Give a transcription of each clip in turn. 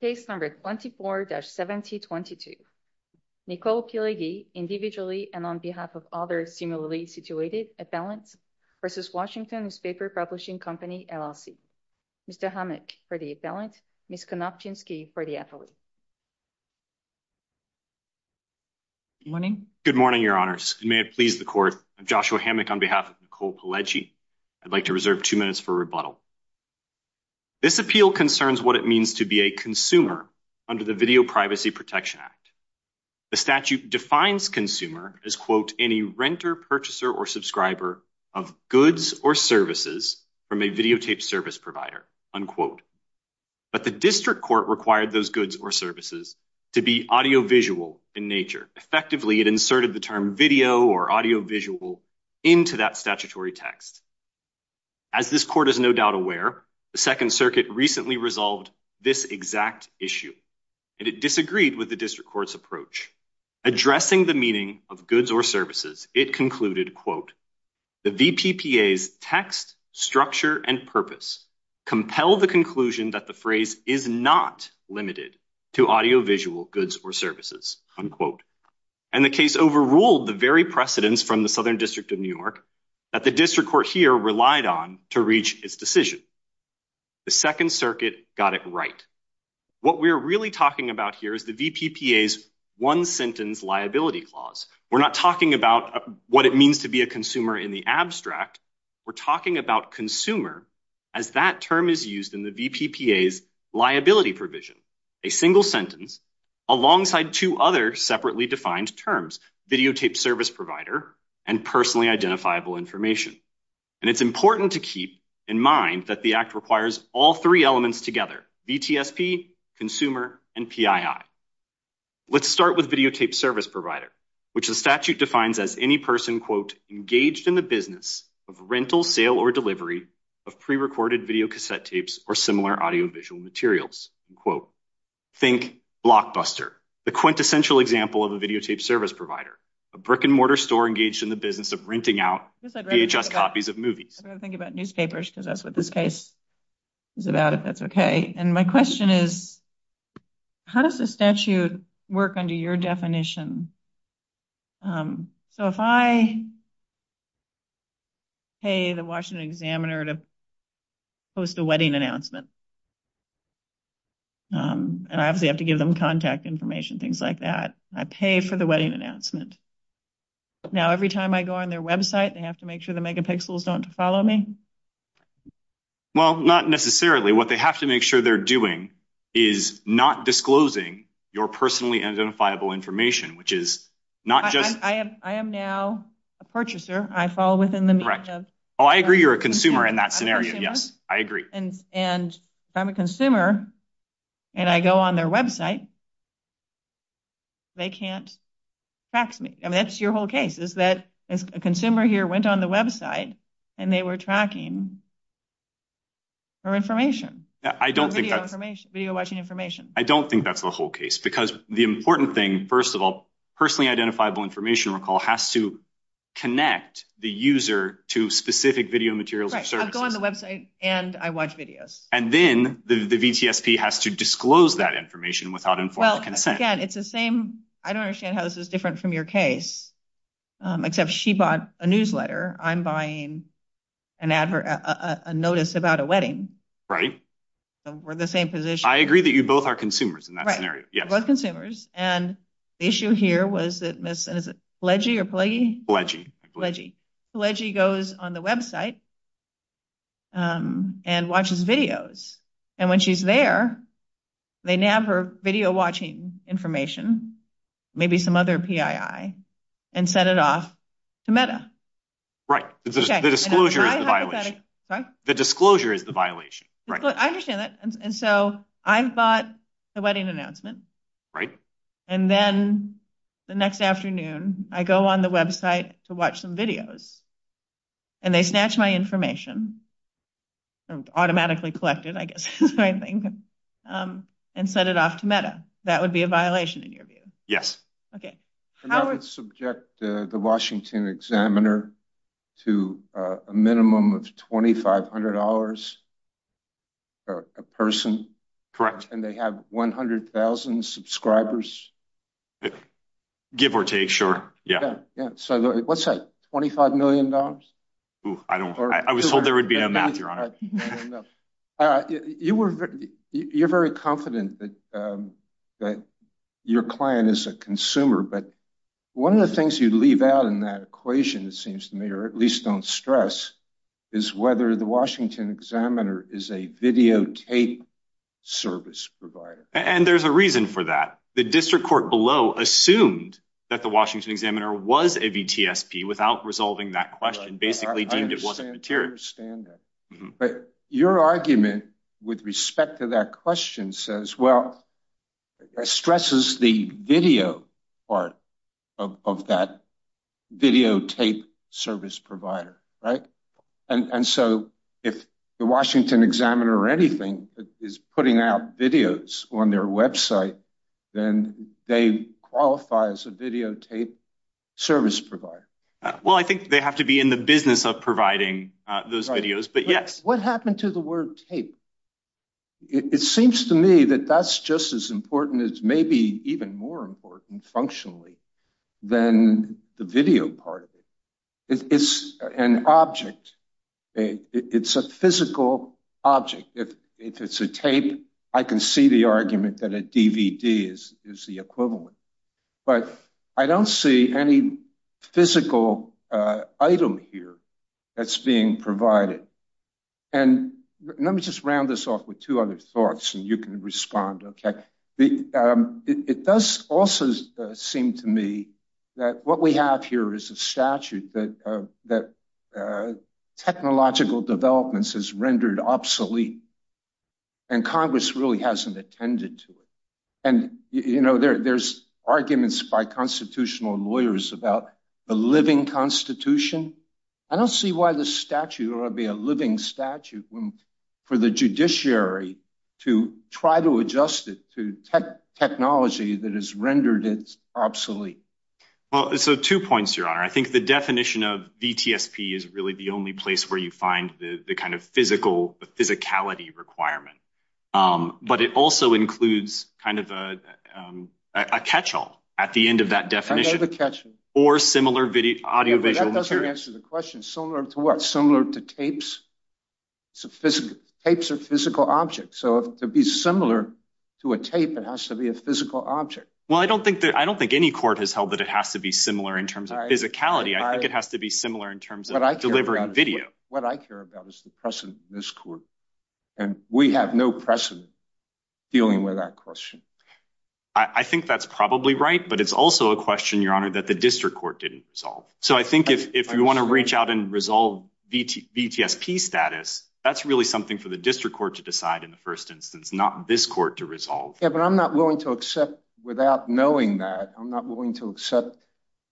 Case number 24-7022. Nicole Pileggi, individually and on behalf of other similarly situated appellants versus Washington Newspaper Publishing Company, LLC. Mr. Hammock for the appellant, Ms. Konopczynski for the affiliate. Good morning. Good morning, Your Honours. And may it please the court, I'm Joshua Hammock on behalf of Nicole Pileggi. I'd like to reserve two minutes for rebuttal. This appeal concerns what it means to be a consumer under the Video Privacy Protection Act. The statute defines consumer as, quote, any renter, purchaser, or subscriber of goods or services from a videotaped service provider, unquote. But the district court required those goods or services to be audiovisual in nature. Effectively, it inserted the term video or audiovisual into that statutory text. As this court is no doubt aware, the Second Circuit recently resolved this exact issue, and it disagreed with the district court's approach. Addressing the meaning of goods or services, it concluded, quote, the VPPA's text, structure, and purpose compel the conclusion that the phrase is not limited to audiovisual goods or services, unquote. And the case overruled the very precedents from the Southern District of New York that the district court here relied on to reach its decision. The Second Circuit got it right. What we're really talking about here is the VPPA's one-sentence liability clause. We're not talking about what it means to be a consumer in the abstract. We're talking about consumer as that term is used in the VPPA's liability provision, a single sentence alongside two other separately defined terms, videotape service provider and personally identifiable information. And it's important to keep in mind that the act requires all three elements together, VTSP, consumer, and PII. Let's start with videotape service provider, which the statute defines as any person, quote, engaged in the business of rental, sale, or delivery of prerecorded videocassette tapes or similar audiovisual materials, unquote. Think Blockbuster, the quintessential example of a videotape service provider, a brick-and-mortar store engaged in the business of renting out VHS copies of movies. I'm going to think about newspapers because that's what this case is about, if that's okay. And my question is, how does the statute work under your definition? So if I pay the Washington Examiner to post a wedding announcement, and I obviously have to give them contact information, things like that, I pay for the wedding announcement. Now every time I go on their website, they have to make sure the megapixels don't follow me? Well, not necessarily. What they have to make sure they're doing is not disclosing your personally identifiable information, which is not just... I am now a purchaser. I fall within the... Correct. Oh, I agree you're a consumer in that scenario. Yes, I agree. And if I'm a consumer and I go on their website, they can't track me. I mean, that's your whole case, is that a consumer here went on the website and they were tracking for information. I don't think that's... Video watching information. I don't think that's the whole case because the important thing, first of all, personally identifiable information recall has to connect the user to specific video materials or services. I'll go on website and I watch videos. And then the VTSP has to disclose that information without informed consent. Well, again, it's the same. I don't understand how this is different from your case, except she bought a newsletter. I'm buying a notice about a wedding. Right. We're in the same position. I agree that you both are consumers in that scenario. We're both consumers and the issue here was that Pileggi goes on the website and watches videos. And when she's there, they nab her video watching information, maybe some other PII and send it off to Meta. Right. The disclosure is the violation. I understand that. And so I've bought a wedding announcement. Right. And then the next afternoon I go on the website to watch some videos and they snatch my information, automatically collected, I guess is my thing, and send it off to Meta. That would be a violation in your view. Yes. Okay. I would subject the Washington Examiner to a minimum of $2,500 per person. Correct. And they have 100,000 subscribers. Give or take. Sure. Yeah. Yeah. So let's say $25 million. Oh, I don't know. I was told there would be no math, Your Honor. You're very confident that your client is a consumer, but one of the things you leave out in that equation, it seems to me, or at least don't stress, is whether the Washington Examiner is a videotape service provider. And there's a reason for that. The district court below assumed that the Washington Examiner was a VTSP without resolving that question, basically deemed it wasn't material. I understand that. But your argument with respect to that question says, well, it stresses the video part of that videotape service provider, right? And so if the Washington Examiner or anything is putting out videos on their website, then they qualify as a videotape service provider. Well, I think they have to be in the business of providing those videos. But yes. What happened to the word tape? It seems to me that that's just as important as maybe even more important functionally than the video part of it. It's an object. It's a physical object. If it's a tape, I can see the argument that a DVD is the equivalent. But I don't see any physical item here that's being provided. And let me just round this off with two other thoughts, and you can respond, okay? It does also seem to me that what we have here is a statute that technological developments has rendered obsolete. And Congress really hasn't attended to it. There's arguments by constitutional lawyers about the living constitution. I don't see why the statute ought to be a living statute for the judiciary to try to adjust it to technology that has rendered it obsolete. Well, so two points, Your Honor. I think the definition of VTSP is really the only place where you find the kind of physicality requirement. But it also includes kind of a catch-all at the end of that definition. Or similar audiovisual material. That doesn't answer the question. Similar to what? Similar to tapes? Tapes are physical objects. So to be similar to a tape, it has to be a physical object. Well, I don't think any court has held that it has to be similar in terms of physicality. I think it has to be similar in terms of delivering video. What I care about is the precedent in this court. And we have no precedent dealing with that question. I think that's probably right. But it's also a question, Your Honor, that the district court didn't resolve. So I think if you want to reach out and resolve VTSP status, that's really something for the district court to decide in the first instance, not this court to resolve. Yeah, but I'm not willing to accept, without knowing that, I'm not willing to accept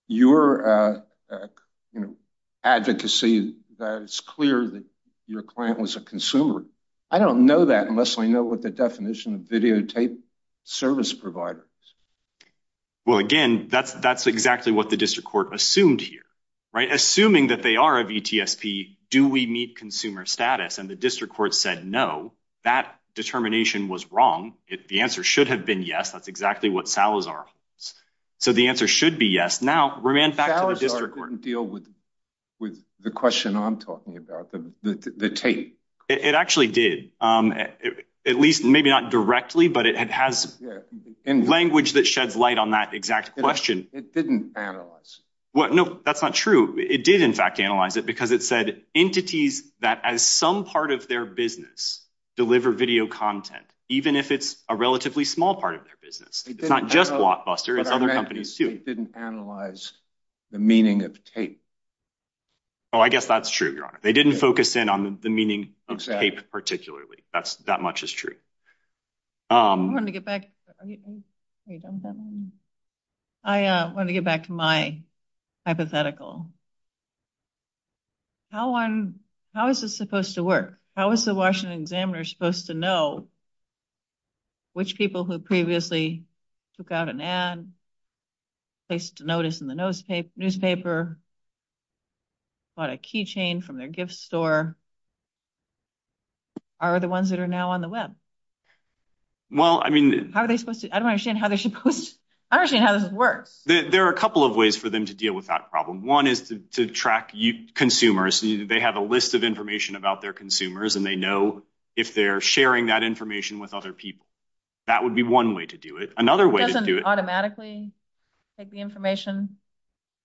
your advocacy that it's clear that your client was a consumer. I don't know that unless I know what the definition of videotape service provider is. Well, again, that's exactly what the district court assumed here, right? Assuming that they are a VTSP, do we meet consumer status? And the district court said no. That determination was wrong. The answer should have been yes. That's exactly what Salazar holds. So the answer should be yes. Now, Roman, back to the district court. Salazar didn't deal with the question I'm talking about, the tape. It actually did. At least, maybe not directly, but it has language that sheds light on that exact question. It didn't analyze. No, that's not true. It did, in fact, analyze it because it said entities that, as some part of their business, deliver video content, even if it's a relatively small part of their business. It's not just Blockbuster. It's other companies, too. It didn't analyze the meaning of tape. Oh, I guess that's true, Your Honor. They didn't focus in on the meaning of tape, particularly. That much is true. I wanted to get back to my hypothetical. How is this supposed to work? How is the Washington Examiner supposed to know which people who previously took out an ad, placed a notice in the newspaper, bought a keychain from their gift store, are the ones that are now on the web? Well, I mean... How are they supposed to... I don't understand how they're supposed to... I don't understand how this works. There are a couple of ways for them to deal with that problem. One is to track consumers. They have a list of information about their consumers, and they know if they're sharing that information with other people. That would be one way to do it. Another way to do it... It doesn't automatically take the information.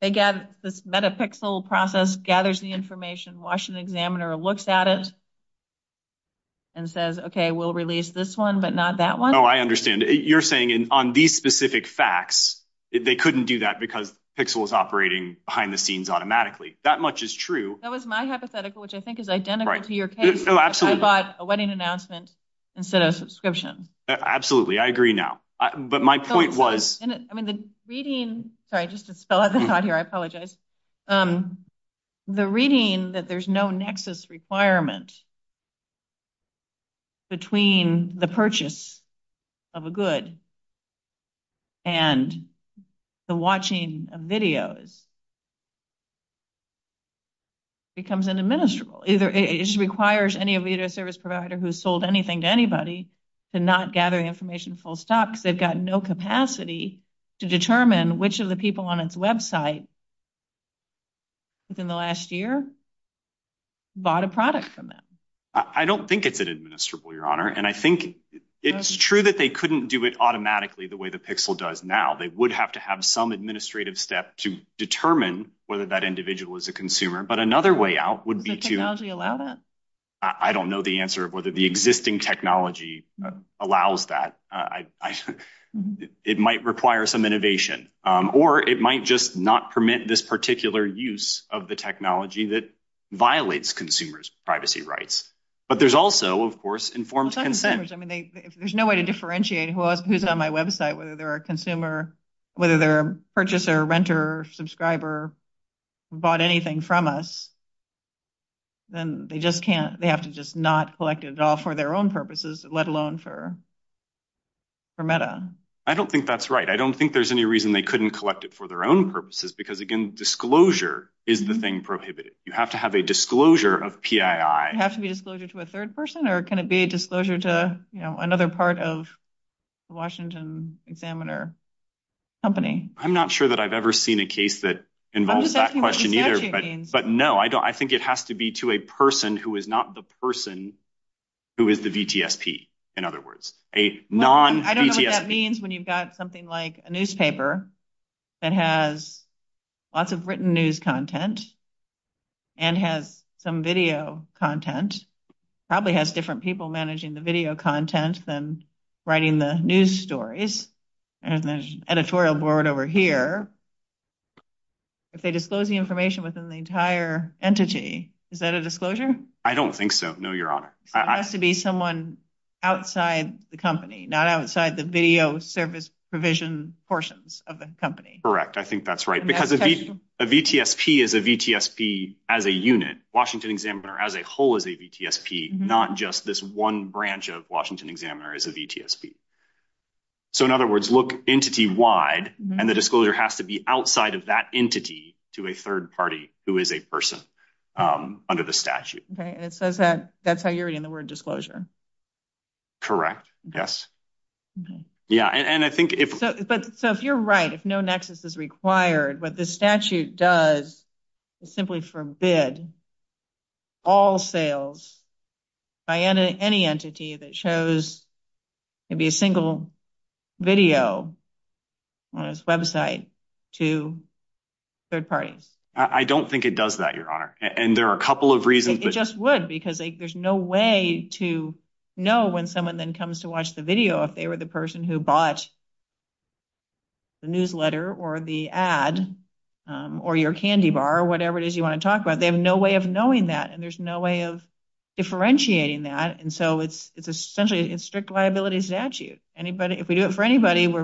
This metapixel process gathers the information. Washington Examiner looks at it and says, okay, we'll release this one, but not that one. Oh, I understand. You're saying on these specific facts, they couldn't do that because pixel is operating behind the scenes automatically. That much is true. That was my hypothetical, which I think is identical to your case. Oh, absolutely. I bought a wedding announcement instead of a subscription. Absolutely. I agree now. But my point was... I mean, the reading... Sorry, just to spell out the thought here. I apologize. The reading that there's no nexus requirement between the purchase of a good and the watching of videos becomes inadministrable. It requires any video service provider who's sold anything to anybody to not gather information full stop because they've got no capacity to determine which of the people on its website within the last year bought a product from them. I don't think it's an administrable, Your Honor. And I think it's true that they couldn't do it automatically the way the pixel does now. They would have to have some administrative step to determine whether that individual is a consumer. But another way out would be to... Does the technology allow that? I don't know the answer of whether the existing technology allows that. It might require some innovation. Or it might just not permit this particular use of the technology that violates consumers' privacy rights. But there's also, of course, informed consent. There's no way to differentiate who's on my website, whether they're a consumer, whether they're a purchaser, renter, subscriber, bought anything from us. Then they just can't. They have to just not collect it at all for their own purposes, let alone for META. I don't think that's right. I don't think there's any reason they couldn't collect it for their own purposes because, again, disclosure is the thing prohibited. You have to have a disclosure of PII. Would it have to be disclosure to a third person or can it be a disclosure to another part of Washington Examiner Company? I'm not sure that I've ever seen a case that involves that question either. But no, I think it has to be to a person who is not the person who is the VTSP, in other words. I don't know what that means when you've got something like a newspaper that has lots of written news content and has some video content. Probably has different people managing the video content than writing the news stories. There's an editorial board over here. If they disclose the information within the entire entity, is that a disclosure? I don't think so, no, Your Honor. It has to be someone outside the company, not outside the video service provision portions of the company. Correct. I think that's right because a VTSP is a VTSP as a unit. Washington Examiner as a whole is a VTSP, not just this one branch of Washington Examiner is a VTSP. So in other words, look entity-wide and the disclosure has to be outside of that entity to a third party who is a person under the statute. Okay, and it says that that's how you're reading the word disclosure. Correct, yes. So if you're right, if no nexus is required, what this statute does is simply forbid all sales by any entity that shows maybe a single video on its website to third parties. I don't think it does that, Your Honor, and there are a couple of reasons. It just would because there's no way to know when someone then comes to watch the video if they were the whatever it is you want to talk about. They have no way of knowing that and there's no way of differentiating that, and so it's essentially a strict liability statute. If we do it for anybody, we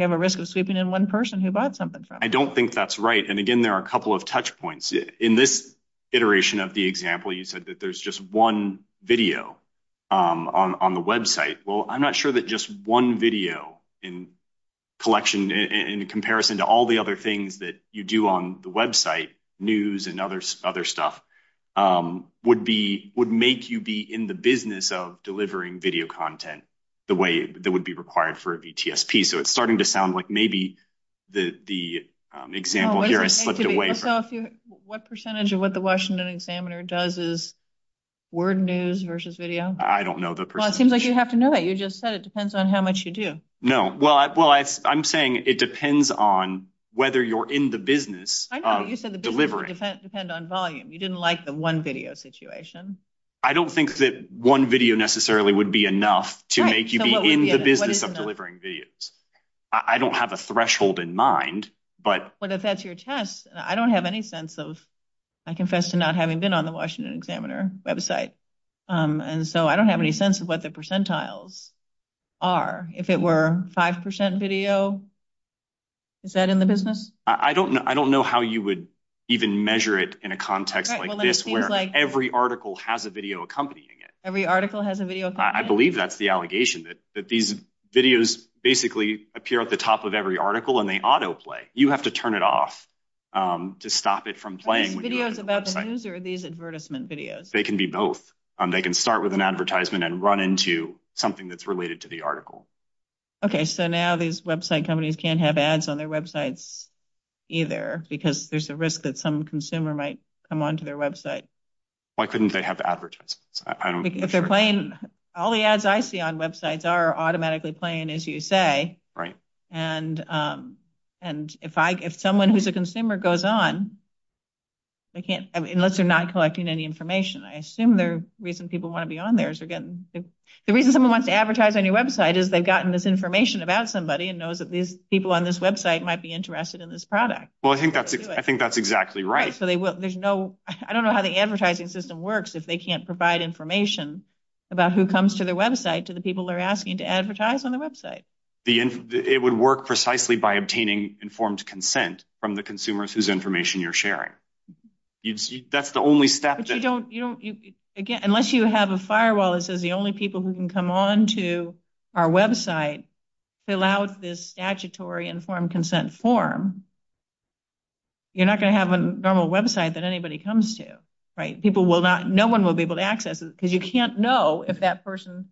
have a risk of sweeping in one person who bought something from us. I don't think that's right, and again, there are a couple of touch points. In this iteration of the example, you said that there's just one video on the website. Well, I'm not sure that just one video in collection in comparison to all the other things that you do on the website, news and other stuff, would make you be in the business of delivering video content the way that would be required for a VTSP. So it's starting to sound like maybe the example here has slipped away. What percentage of what the Washington Examiner does is word news versus video? I don't know the percentage. Well, it seems like you have to just say it depends on how much you do. No, well, I'm saying it depends on whether you're in the business of delivering. You said the business depends on volume. You didn't like the one video situation. I don't think that one video necessarily would be enough to make you be in the business of delivering videos. I don't have a threshold in mind, but if that's your test, I don't have any sense of, I confess to not having been on the Washington Examiner website, and so I don't have any sense of what the percentiles are. If it were 5% video, is that in the business? I don't know how you would even measure it in a context like this where every article has a video accompanying it. Every article has a video? I believe that's the allegation that these videos basically appear at the top of every article and they autoplay. You have to turn it off to stop it from playing. Are these videos about the news or are these advertisement videos? They can be both. They can start with an advertisement and run into something that's related to the article. Okay, so now these website companies can't have ads on their websites either because there's a risk that some consumer might come onto their website. Why couldn't they have advertisements? If they're playing, all the ads I see on websites are automatically playing as you say, and if someone who's a consumer goes on, unless they're not collecting any information, I assume the reason people want to be on theirs. The reason someone wants to advertise on your website is they've gotten this information about somebody and knows that these people on this website might be interested in this product. Well, I think that's exactly right. I don't know how the advertising system works if they can't provide information about who comes to their website to the people they're asking to advertise on their website. It would work precisely by obtaining informed consent from the consumers whose information you're sharing. That's the only step. But you don't, again, unless you have a firewall that says the only people who can come on to our website to allow this statutory informed consent form, you're not going to have a normal website that anybody comes to, right? People will not, no one will be able to access it because you can't know if that person,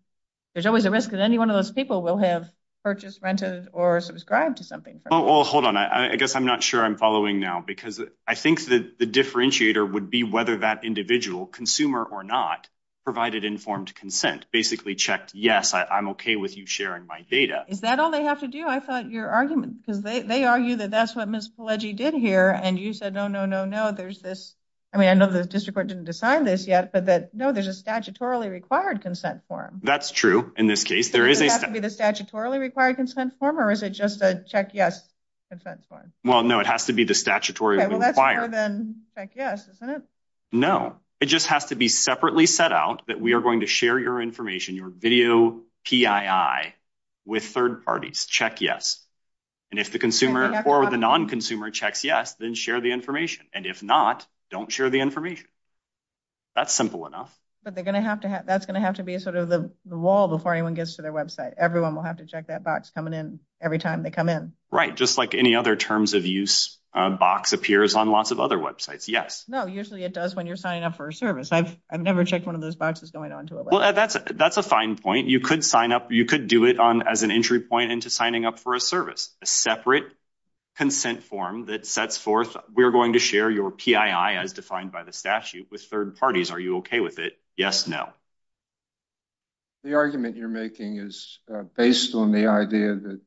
there's always a risk that any one of those people will have purchased, rented, or subscribed to something. Well, hold on, I guess I'm sure I'm following now because I think that the differentiator would be whether that individual, consumer or not, provided informed consent. Basically checked, yes, I'm okay with you sharing my data. Is that all they have to do? I thought your argument, because they argue that that's what Ms. Pelleggi did here and you said, no, no, no, no, there's this, I mean, I know the district court didn't decide this yet, but that, no, there's a statutorily required consent form. That's true. In this case, there is. Does it have to be the statutorily required consent form or is just a check yes consent form? Well, no, it has to be the statutorily required. Well, that's more than check yes, isn't it? No, it just has to be separately set out that we are going to share your information, your video PII with third parties, check yes, and if the consumer or the non-consumer checks yes, then share the information, and if not, don't share the information. That's simple enough. But they're going to have to have, that's going to have to be sort of the wall before anyone gets to their website. Everyone will have to check that box coming in every time they come in. Right, just like any other terms of use box appears on lots of other websites. Yes. No, usually it does when you're signing up for a service. I've never checked one of those boxes going on to it. Well, that's a fine point. You could sign up, you could do it on as an entry point into signing up for a service, a separate consent form that sets forth, we're going to share your PII as defined by the statute with third parties. Are you okay with it? Yes, no. The argument you're making is based on the idea that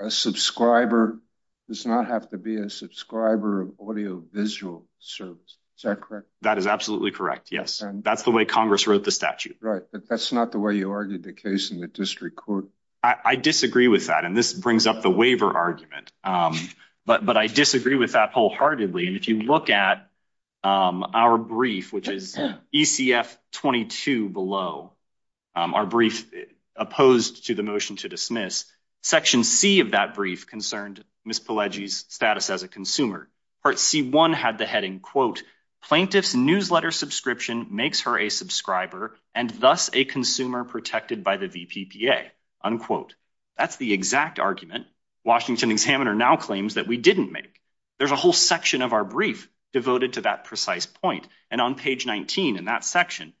a subscriber does not have to be a subscriber of audiovisual service. Is that correct? That is absolutely correct. Yes, that's the way Congress wrote the statute. Right, but that's not the way you argued the case in the district court. I disagree with that, and this brings up the waiver argument, but I disagree with that wholeheartedly. And if you look at our brief, which is ECF 22 below, our brief opposed to the motion to dismiss, section C of that brief concerned Ms. Pelleggi's status as a consumer. Part C1 had the heading, quote, plaintiff's newsletter subscription makes her a subscriber and thus a consumer protected by the VPPA, unquote. That's the exact argument Washington Examiner now claims that we didn't make. There's a whole section of our brief devoted to that precise point, and on page 19 in that section,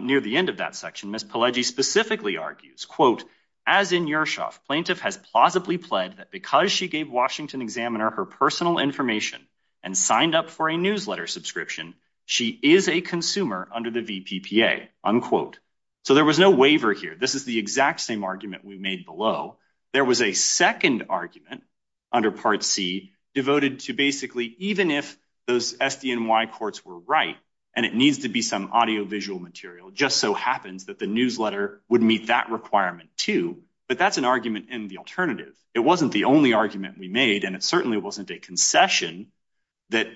near the end of that section, Ms. Pelleggi specifically argues, quote, as in Yershov, plaintiff has plausibly pled that because she gave Washington Examiner her personal information and signed up for a newsletter subscription, she is a consumer under the VPPA, unquote. So there was no waiver here. This is the exact same argument we made below. There was a second argument under part C devoted to basically even if those SDNY courts were right, and it needs to be some audiovisual material, just so happens that the newsletter would meet that requirement too. But that's an argument in the alternative. It wasn't the only argument we made, and it certainly wasn't a concession that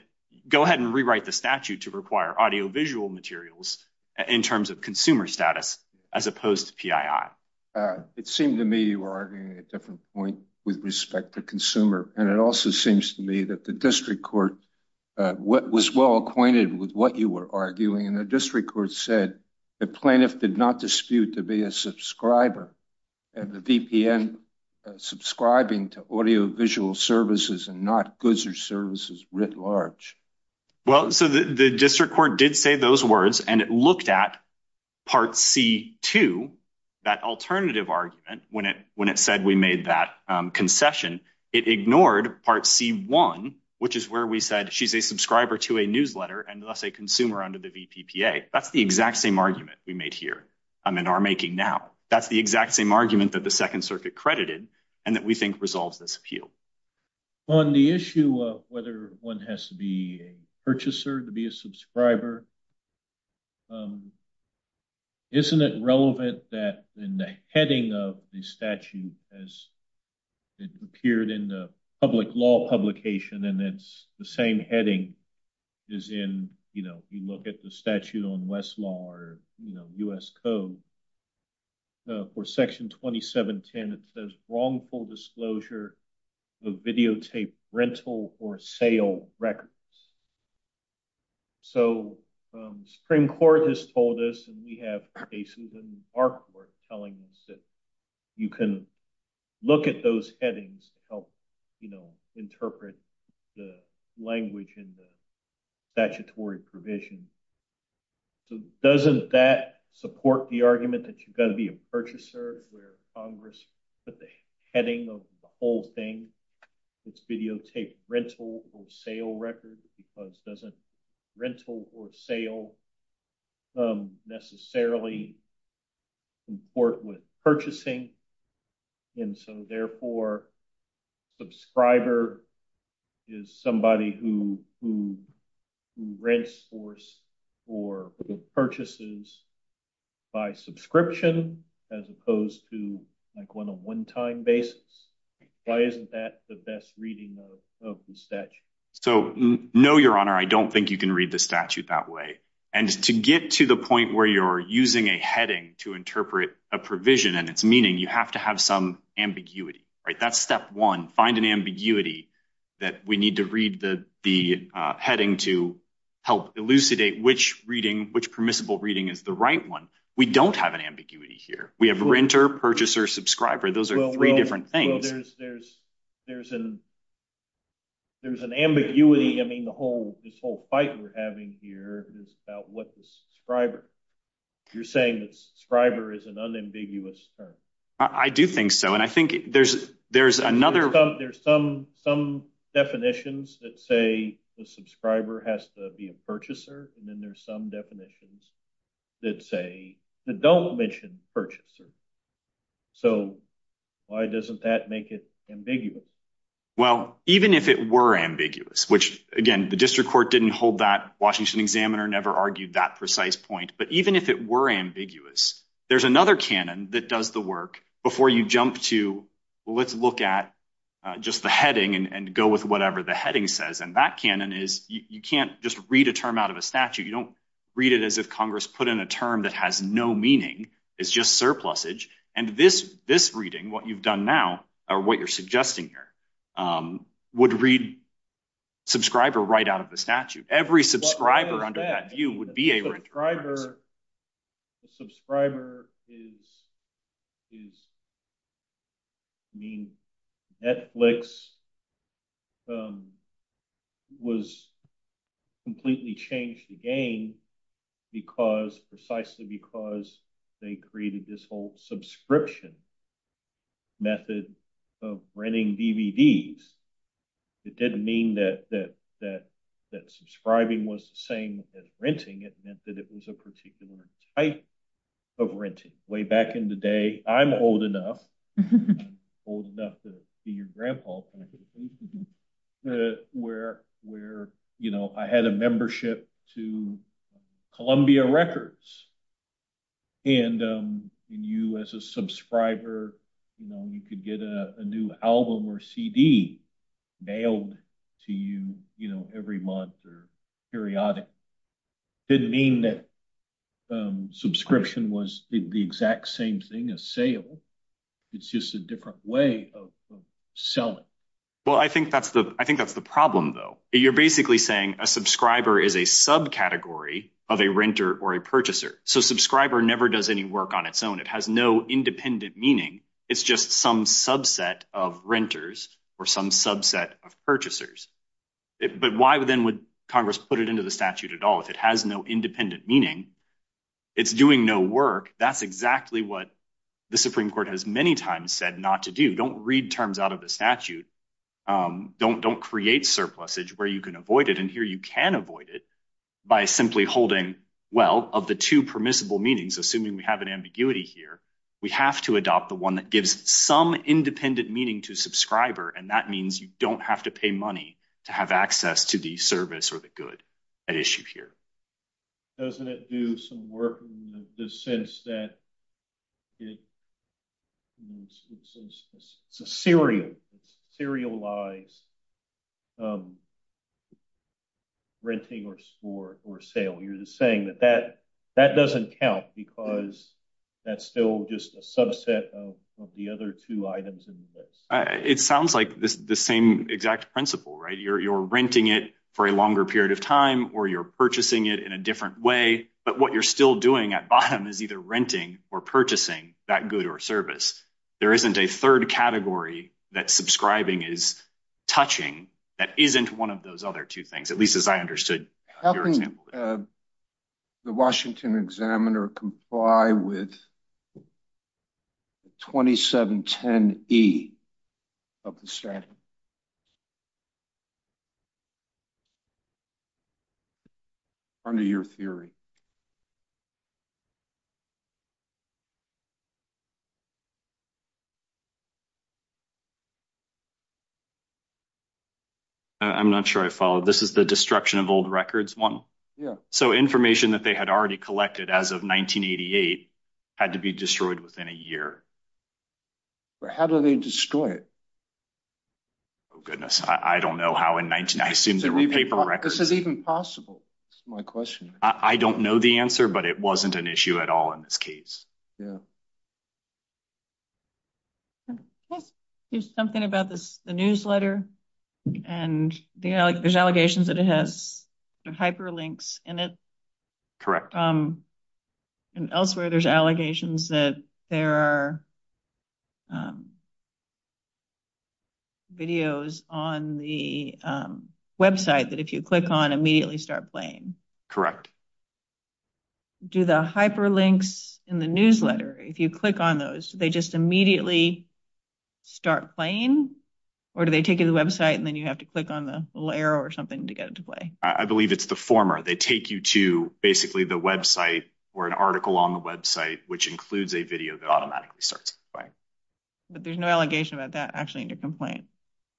go ahead and rewrite the statute to require audiovisual materials in terms of consumer status as opposed to PII. It seemed to me you were arguing a different point with respect to consumer, and it also seems to me that the district court was well acquainted with what you were arguing, and the district court said the plaintiff did not dispute to be a subscriber of the VPN subscribing to audiovisual services and not goods or services writ large. Well, so the district court did say those words, and it looked at part C-2, that alternative argument when it said we made that concession. It ignored part C-1, which is where we said she's a subscriber to a newsletter and thus a consumer under the VPPA. That's the exact same argument we made here in our making now. That's the exact same argument that the Second Circuit credited and that we think resolves this appeal. On the issue of whether one has to be a purchaser to be a subscriber, isn't it relevant that in the heading of the statute as it appeared in the public law publication and it's the same heading as in, you know, you look at the statute on Westlaw or, you know, U.S. Code for Section 2710, it says wrongful disclosure of videotaped rental or sale records. So, the Supreme Court has told us, and we have cases in the Bar Court telling us that you can look at those headings to help, you know, interpret the language in the statute. So, doesn't that support the argument that you've got to be a purchaser where Congress put the heading of the whole thing? It's videotaped rental or sale records because it doesn't rental or sale necessarily comport with purchasing. And so, therefore, subscriber is somebody who rents for purchases by subscription as opposed to, like, on a one-time basis. Why isn't that the best reading of the statute? So, no, Your Honor, I don't think you can read the statute that way. And to get to the point where you're using a heading to interpret a provision and its meaning, you have to have some ambiguity, right? That's step one, find an ambiguity that we need to read the heading to help elucidate which permissible reading is the right one. We don't have an ambiguity here. We have renter, purchaser, subscriber. Those are three different things. Well, there's an ambiguity. I mean, this whole fight we're having here is about what the subscriber. You're saying that subscriber is an unambiguous term. I do think so. And I think there's another. There's some definitions that say the subscriber has to be a purchaser. And then there's some definitions that say, don't mention purchaser. So, why doesn't that make it ambiguous? Well, even if it were ambiguous, which, again, the district court didn't hold that. Washington Examiner never argued that precise point. But even if it were ambiguous, there's another canon that does the work before you jump to, well, let's look at just the heading and go with whatever the heading says. And that canon is you can't just read a term out of a statute. You don't read it as if Congress put in a term that has no meaning. It's just surplusage. And this reading, what you've done now or what you're suggesting here, would read subscriber right out of the statute. Every subscriber under that view would be a renter. The subscriber is, I mean, Netflix was completely changed again because, precisely because they created this whole subscription method of renting DVDs. It didn't mean that subscribing was the same as renting. It meant that it was a particular type of renting. Way back in the day, I'm old enough, old enough to be your grandpa, where I had a membership to Columbia Records. And you as a subscriber, you could get a new album or CD mailed to you every month or periodic. Didn't mean that subscription was the exact same thing as sale. It's just a different way of selling. Well, I think that's the problem though. You're basically saying a subcategory of a renter or a purchaser. So subscriber never does any work on its own. It has no independent meaning. It's just some subset of renters or some subset of purchasers. But why then would Congress put it into the statute at all if it has no independent meaning? It's doing no work. That's exactly what the Supreme Court has many times said not to do. Don't read terms out of the statute. Don't create surplusage where you can avoid it. And here you can avoid it by simply holding, well, of the two permissible meanings, assuming we have an ambiguity here, we have to adopt the one that gives some independent meaning to subscriber. And that means you don't have to pay money to have access to the service or the good at issue here. Doesn't it do some work in the sense that it's a serialized renting or sport or sale? You're just saying that that doesn't count because that's still just a subset of the other two items in the list. It sounds like the same exact principle, right? You're renting it for a longer period of time or you're purchasing it in a different way. But what you're still doing at bottom is either renting or purchasing that good or service. There isn't a third category that subscribing is touching that isn't one of those other two things, at least as I understood. How can the Washington examiner comply with 2710E of the statute? Under your theory. I'm not sure I follow. This is the destruction of old records one. Yeah. So, information that they had already collected as of 1988 had to be destroyed within a year. But how do they destroy it? Oh, goodness. I don't know how in 19... I assume there were paper records. This is even possible. That's my question. I don't know that. I don't know that. It wasn't an issue at all in this case. There's something about the newsletter and there's allegations that it has hyperlinks in it. And elsewhere, there's allegations that there are videos on the website that if you click on immediately start playing. Correct. Do the hyperlinks in the newsletter, if you click on those, they just immediately start playing? Or do they take you to the website and then you have to click on the little arrow or something to get it to play? I believe it's the former. They take you to basically the website or an article on the website, which includes a video that automatically starts playing. But there's no allegation about that actually in your complaint.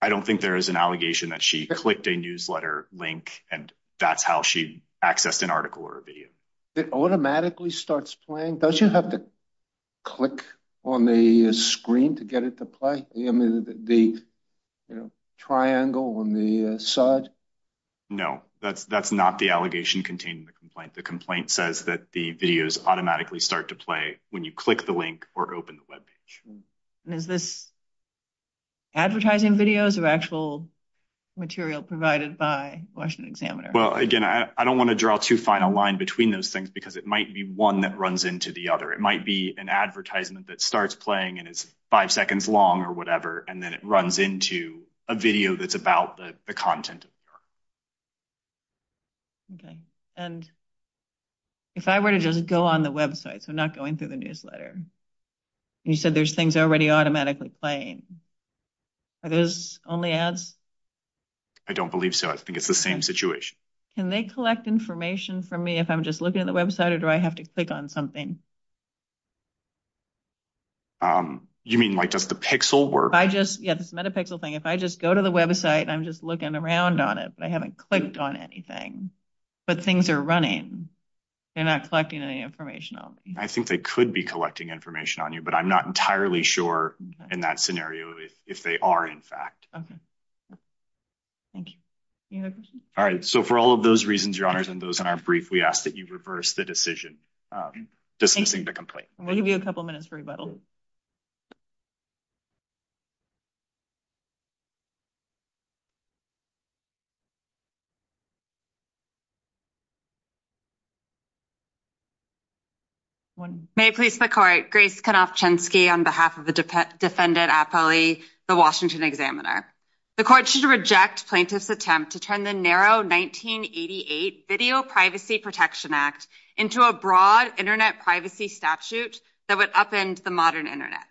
I don't think there is an allegation that she clicked a newsletter link and that's how she accessed an article or a video. It automatically starts playing? Don't you have to click on the screen to get it to play? The triangle on the side? No, that's not the allegation contained in the complaint. The complaint says that the videos automatically start to play when you click the link or open the webpage. Is this advertising videos or actual material provided by Washington Examiner? Again, I don't want to draw too fine a line between those things because it might be one that runs into the other. It might be an advertisement that starts playing and is five seconds long or whatever, and then it runs into a video that's about the content. If I were to just go on the website, so not going through the newsletter, and you said there's things already automatically playing, are those only ads? I don't believe so. I think it's the same situation. Can they collect information from me if I'm just looking at the website or do I have to click on something? You mean, like, does the pixel work? I just, yeah, this metapixel thing, if I just go to the website and I'm just looking around on it, but I haven't clicked on anything, but things are running, they're not collecting any information on me. I think they could be collecting information on you, but I'm not entirely sure in that scenario if they are, in fact. Thank you. Any other questions? All right, so for all of those reasons, Your Honors, and those in our brief, we ask that you reverse the decision dismissing the complaint. We'll give you a couple minutes for rebuttal. May it please the Court, Grace Knopf-Chensky on behalf of the defendant, Apolli, the Washington Examiner. The Court should reject plaintiff's attempt to turn the narrow 1988 Video Privacy Protection Act into a broad internet privacy statute that would upend the modern internet.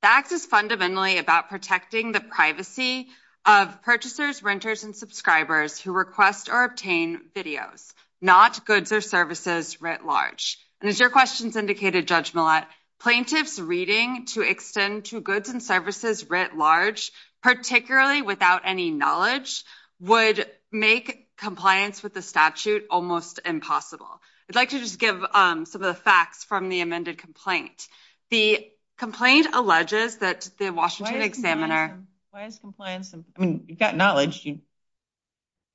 The act is fundamentally about protecting the privacy of purchasers, renters, and subscribers who request or obtain videos, not goods or services writ large. And as your questions indicated, Judge Millett, plaintiff's reading to extend to goods and services writ large, particularly without any knowledge, would make compliance with the statute almost impossible. I'd like to just give some of the facts from the amended complaint. The complaint alleges that the Washington Examiner- Why is compliance? I mean, you've got knowledge.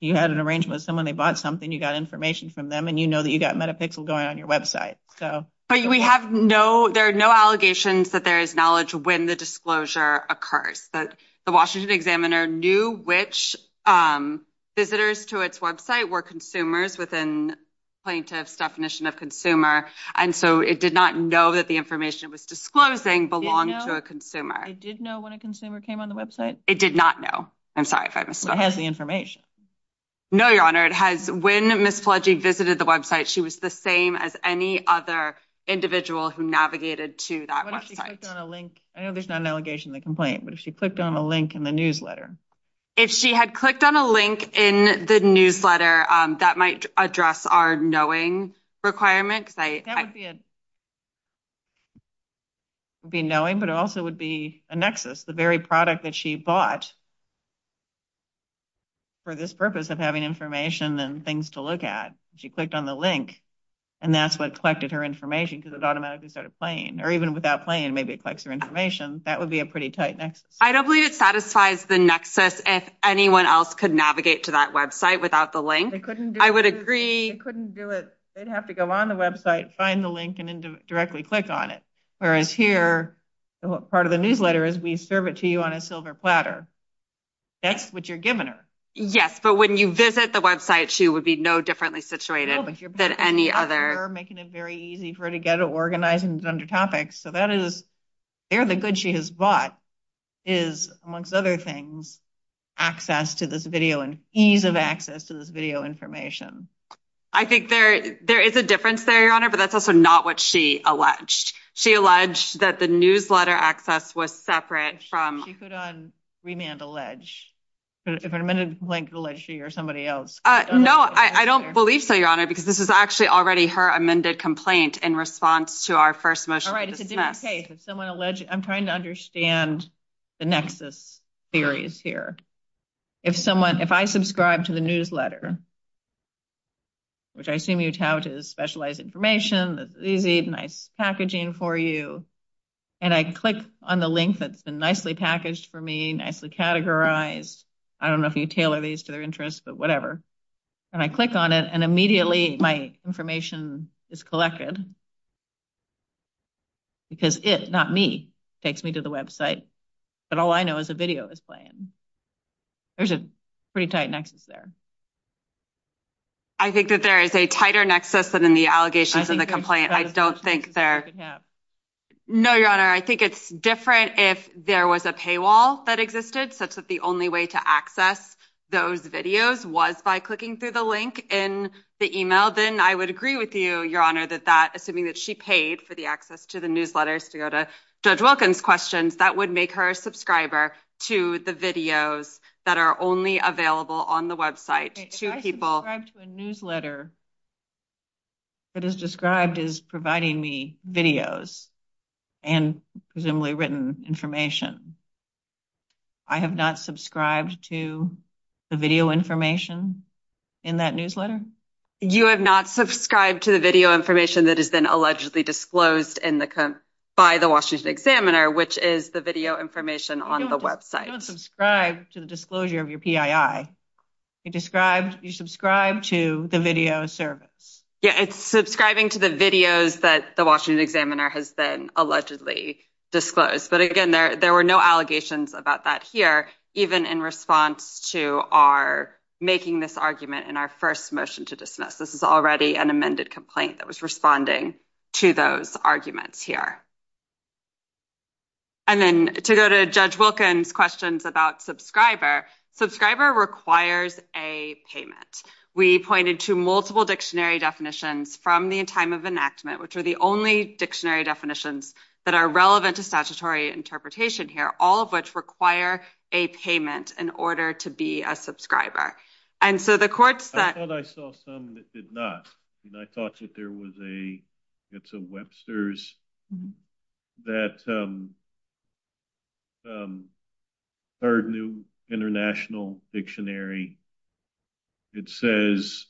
You had an arrangement with someone, they bought something, you got information from them, and you know that you got Metapixel going on your website, so- But we have no, there are no allegations that there is knowledge when the disclosure occurs. That the Washington Examiner knew which visitors to its website were consumers within plaintiff's definition of consumer, and so it did not know that the information it was disclosing belonged to a consumer. It did know when a consumer came on the website? It did not know. I'm sorry if I misstated. Well, it has the information. No, Your Honor. It has, when Ms. Palegi visited the website, she was the same as any other individual who navigated to that website. What if she clicked on a link? I know there's not an allegation in the complaint, but if she clicked on a link in the newsletter? If she had clicked on a link in the newsletter, that might address our knowing requirement, because I- That would be a, would be knowing, but it also would be a nexus. The very product that she bought for this purpose of having information and things to look at, she clicked on the link, and that's what collected her information, because it automatically started playing. Or even without playing, maybe it collects her information. That would be a pretty tight nexus. I don't believe it satisfies the nexus if anyone else could navigate to that website without the link. They couldn't do it. I would agree. They couldn't do it. They'd have to go on the website, find the link, and then directly click on it. Whereas here, part of the newsletter is, we serve it to you on a silver platter. That's what you're giving her. Yes, but when you visit the website, she would be no differently situated than any other. You're making it very easy for her to get it organized and under topics. So that is, they're the good she has bought is, amongst other things, access to this video and ease of access to this video information. I think there is a difference there, Your Honor, but that's also not what she alleged. She alleged that the newsletter access was separate from… She could unremand allege. If an amended complaint could allege she or somebody else. No, I don't believe so, Your Honor, because this is actually already her amended complaint in response to our first motion. All right, it's a different case. If someone alleged… I'm trying to understand the nexus theories here. If someone… If I subscribe to the newsletter, which I assume you tout is specialized information, easy, nice packaging for you, and I click on the link that's been nicely packaged for me, nicely categorized. I don't know if you tailor these to their interests, but whatever. And I click on it, and immediately my information is collected. Because it, not me, takes me to the website, but all I know is a video is playing. There's a pretty tight nexus there. I think that there is a tighter nexus than in the allegations and the complaint. I don't think there… No, Your Honor, I think it's different if there was a paywall that existed such that the only way to access those videos was by clicking through the link in the email. Then I would agree with you, Your Honor, that that, assuming that she paid for the access to the newsletters to go to Judge Wilkins' questions, that would make her a subscriber to the videos that are only available on the website to people… If I subscribe to a newsletter that is described as providing me videos and presumably written information, I have not subscribed to the video information in that newsletter? You have not subscribed to the video information that is then allegedly disclosed by the Washington Examiner, which is the video information on the website. You don't subscribe to the disclosure of your PII. You subscribe to the video service. Yeah, it's subscribing to the videos that the Washington Examiner has then allegedly disclosed. But again, there were no allegations about that here, even in response to our making this argument in our first motion to dismiss. This is already an amended complaint that was responding to those arguments here. And then to go to Judge Wilkins' questions about subscriber, subscriber requires a payment. We pointed to multiple dictionary definitions from the time of enactment, which are the only dictionary definitions that are relevant to statutory interpretation here, all of which require a payment in order to be a subscriber. I thought I saw some that did not. I thought that there was a Webster's that third new international dictionary. It says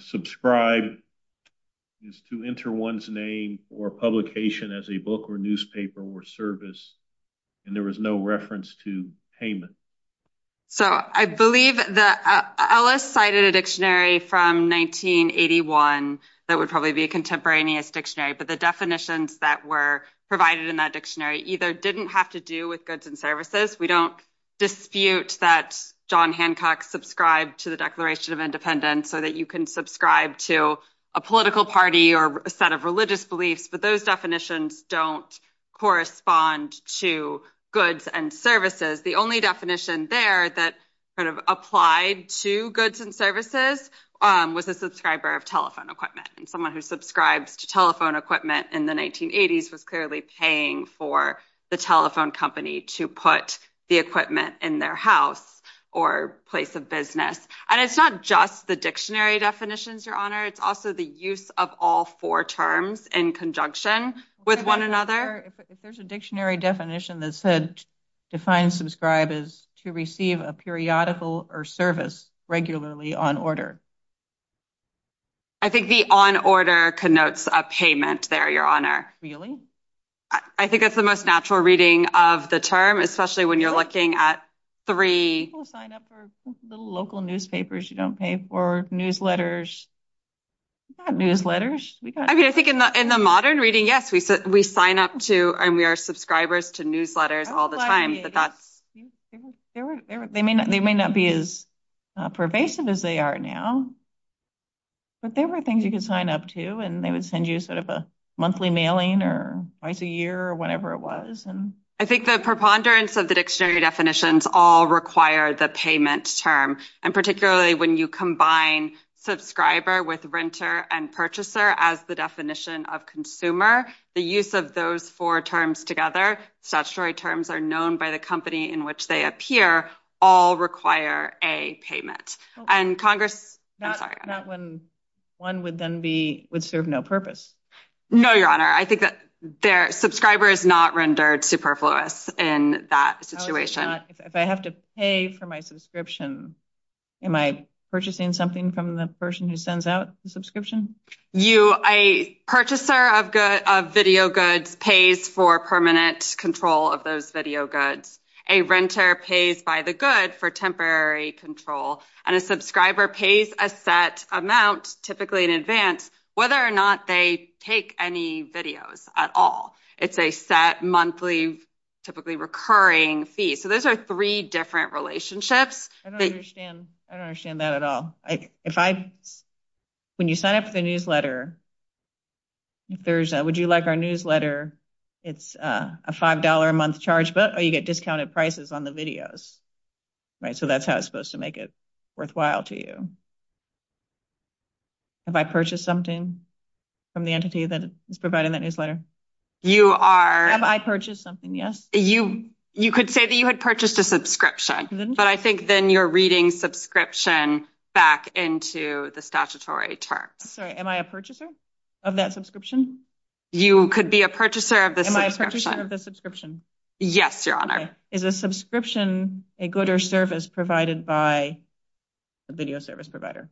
subscribe is to enter one's name or publication as a book or newspaper or service. And there was no reference to payment. So I believe that Ellis cited a dictionary from 1981 that would probably be a contemporaneous dictionary, but the definitions that were provided in that dictionary either didn't have to do with goods and services. We don't dispute that John Hancock subscribed to the Declaration of Independence so that you can subscribe to a political party or a set of religious beliefs. But those definitions don't correspond to goods and services. The only definition there that kind of applied to goods and services was a subscriber of telephone equipment. Someone who subscribes to telephone equipment in the 1980s was clearly paying for the telephone company to put the equipment in their house or place of business. And it's not just the dictionary definitions, Your Honor. It's also the use of all four terms in conjunction with one another. If there's a dictionary definition that said define subscribe is to receive a periodical or service regularly on order. I think the on order connotes a payment there, Your Honor. I think that's the most natural reading of the term, especially when you're looking at three sign up for the local newspapers. You don't pay for newsletters, newsletters. I mean, I think in the modern reading, yes, we sign up to and we are subscribers to newsletters all the time. They may not be as pervasive as they are now, but there were things you could sign up to and they would send you sort of a monthly mailing or twice a year or whatever it was. And I think the preponderance of the dictionary definitions all require the payment term. And particularly when you combine subscriber with renter and purchaser as the definition of consumer. The use of those four terms together. Statutory terms are known by the company in which they appear all require a payment and Congress. Not when one would then be would serve no purpose. No, Your Honor. I think that their subscriber is not rendered superfluous in that situation. If I have to pay for my subscription, am I purchasing something from the person who sends out the subscription? You a purchaser of video goods pays for permanent control of those video goods. A renter pays by the good for temporary control and a subscriber pays a set amount, typically in advance, whether or not they take any videos at all. It's a set monthly, typically recurring fee. So those are three different relationships. I don't understand that at all. If I when you sign up for the newsletter. If there's a would you like our newsletter? It's a $5 a month charge, but you get discounted prices on the videos, right? So that's how it's supposed to make it worthwhile to you. Have I purchased something from the entity that is providing that newsletter? You are. Have I purchased something? Yes. You you could say that you had purchased a subscription, but I think then you're reading subscription back into the statutory terms. Sorry, am I a purchaser of that subscription? You could be a purchaser of the subscription. Yes, your honor. Is a subscription a good or service provided by the video service provider?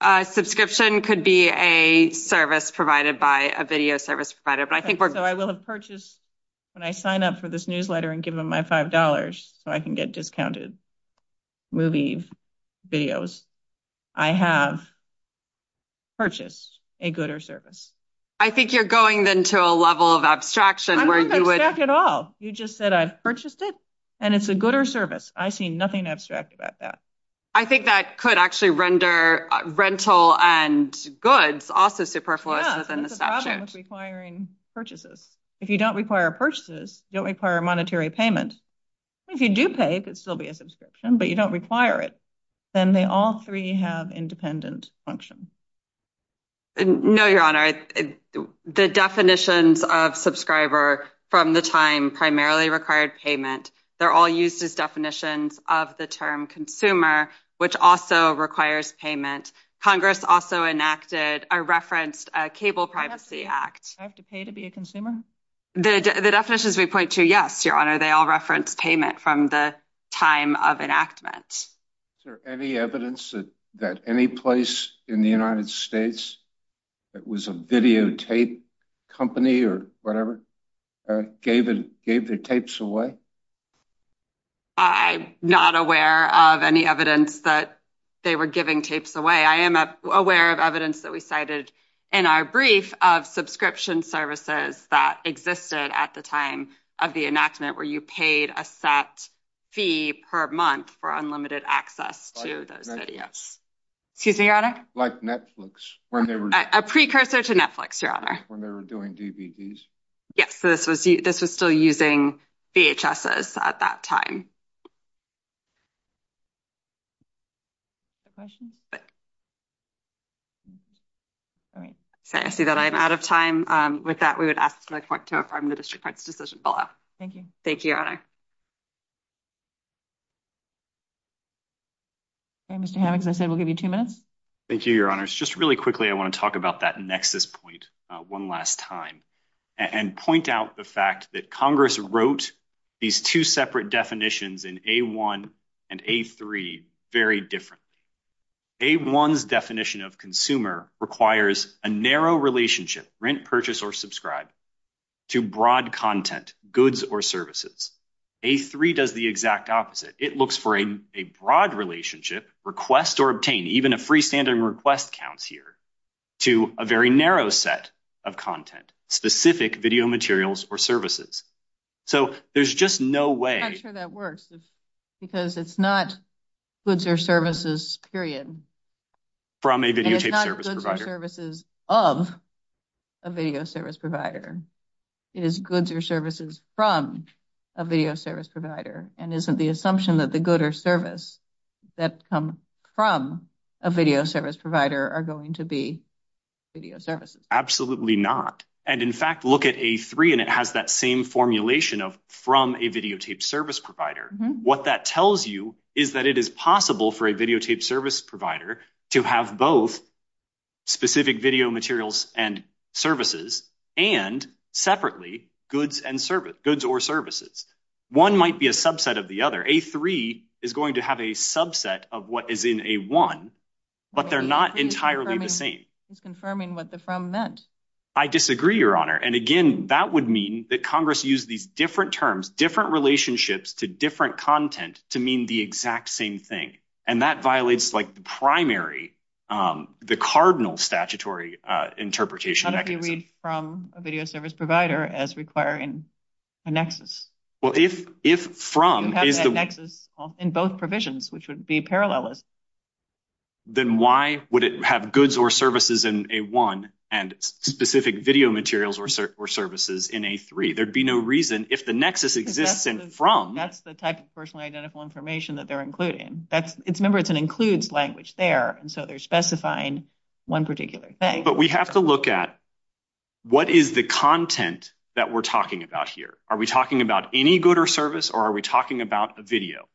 A subscription could be a service provided by a video service provider. So I will have purchased when I sign up for this newsletter and give them my $5 so I can get discounted movie videos. I have purchased a good or service. I think you're going then to a level of abstraction where you would at all. You just said I've purchased it and it's a good or service. I see nothing abstract about that. I think that could actually render rental and goods also superfluous within the statute. Requiring purchases. If you don't require purchases, you don't require monetary payment. If you do pay, it could still be a subscription, but you don't require it. Then they all three have independent function. No, your honor. The definitions of subscriber from the time primarily required payment. They're all used as definitions of the term consumer, which also requires payment. Congress also enacted a referenced Cable Privacy Act. I have to pay to be a consumer? The definitions we point to, yes, your honor. They all reference payment from the time of enactment. Is there any evidence that any place in the United States that was a videotape company or whatever gave their tapes away? I'm not aware of any evidence that they were giving tapes away. I am aware of evidence that we cited in our brief of subscription services that existed at the time of the enactment where you paid a set fee per month for unlimited access to those videos. Excuse me, your honor. Like Netflix. A precursor to Netflix, your honor. When they were doing DVDs. Yes, this was this was still using VHS at that time. The questions, but. All right, so I see that I'm out of time with that. We would ask to affirm the district parts decision below. Thank you. Thank you, your honor. Hey, Mr. Hammocks, I said we'll give you 2 minutes. Thank you, your honors. Just really quickly. I want to talk about that nexus point 1 last time. And point out the fact that Congress wrote these 2 separate definitions in a 1 and a 3. Very different a 1's definition of consumer requires a narrow relationship, rent, purchase, or subscribe to broad content goods or services. A 3 does the exact opposite. It looks for a broad relationship request or obtain even a freestanding request counts here. To a very narrow set of content specific video materials or services. So there's just no way I'm sure that works. Because it's not goods or services period. From a video services of a video service provider. It is goods or services from a video service provider. And isn't the assumption that the good or service. That come from a video service provider are going to be. Video services. Absolutely not. And in fact, look at a 3, and it has that same formulation of from a video tape service provider. What that tells you is that it is possible for a video tape service provider to have both. Specific video materials and services and separately goods and service goods or services. 1 might be a subset of the other. A 3 is going to have a subset of what is in a 1. But they're not entirely the same. It's confirming what the from meant. I disagree, your honor. And again, that would mean that Congress use these different terms, different relationships to different content to mean the exact same thing. And that violates like the primary. The cardinal statutory interpretation from a video service provider as requiring a nexus. Well, if if from is the nexus in both provisions, which would be parallel. Then why would it have goods or services in a 1 and specific video materials or services in a 3? There'd be no reason if the nexus exists and from that's the type of personally identical information that they're including. That's it's member. It's an includes language there. And so they're specifying 1 particular thing, but we have to look at. What is the content that we're talking about here? Are we talking about any good or service? Or are we talking about a video?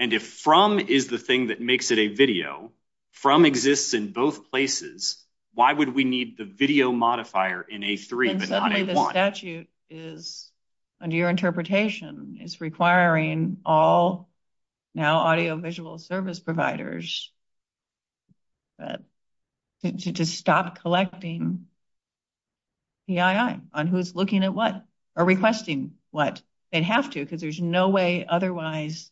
And if from is the thing that makes it a video from exists in both places, why would we need the video modifier in a 3, but not a 1? Suddenly the statute is under your interpretation is requiring all now audio visual service providers. To stop collecting. Yeah, I'm on who's looking at what are requesting what they'd have to, because there's no way otherwise.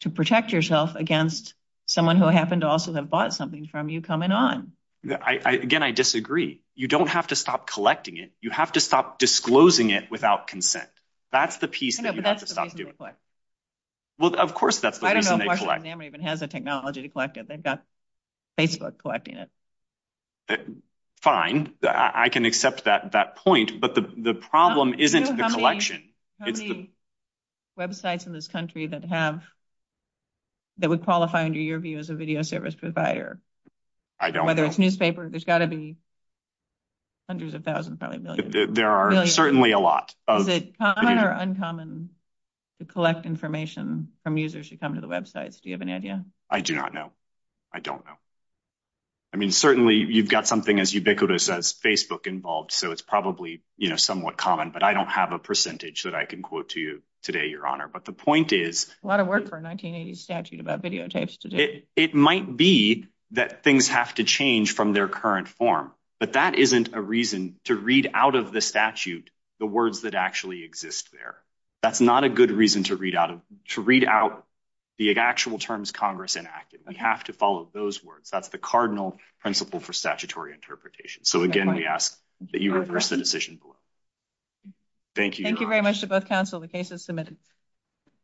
To protect yourself against someone who happened to also have bought something from you coming on. Yeah, I again, I disagree. You don't have to stop collecting it. You have to stop disclosing it without consent. That's the piece that you have to stop doing. Well, of course, that's the reason they collect. Even has a technology to collect it. They've got Facebook collecting it. Fine, I can accept that that point, but the problem isn't the collection. Websites in this country that have. That would qualify under your view as a video service provider. I don't whether it's newspaper. There's gotta be. Hundreds of thousands, probably a million. There are certainly a lot of it or uncommon. To collect information from users should come to the websites. I do not know. I don't know. I mean, certainly you've got something as ubiquitous as Facebook involved, so it's probably somewhat common, but I don't have a percentage that I can quote to you today. Your honor. But the point is a lot of work for 1980 statute about videotapes today. It might be that things have to change from their current form, but that isn't a reason to read out of the statute. The words that actually exist there. That's not a good reason to read out of to read out the actual terms. Congress enacted. We have to follow those words. That's the cardinal principle for statutory interpretation. So again, we ask that you reverse the decision. Thank you. Thank you very much to both counsel. The case is submitted.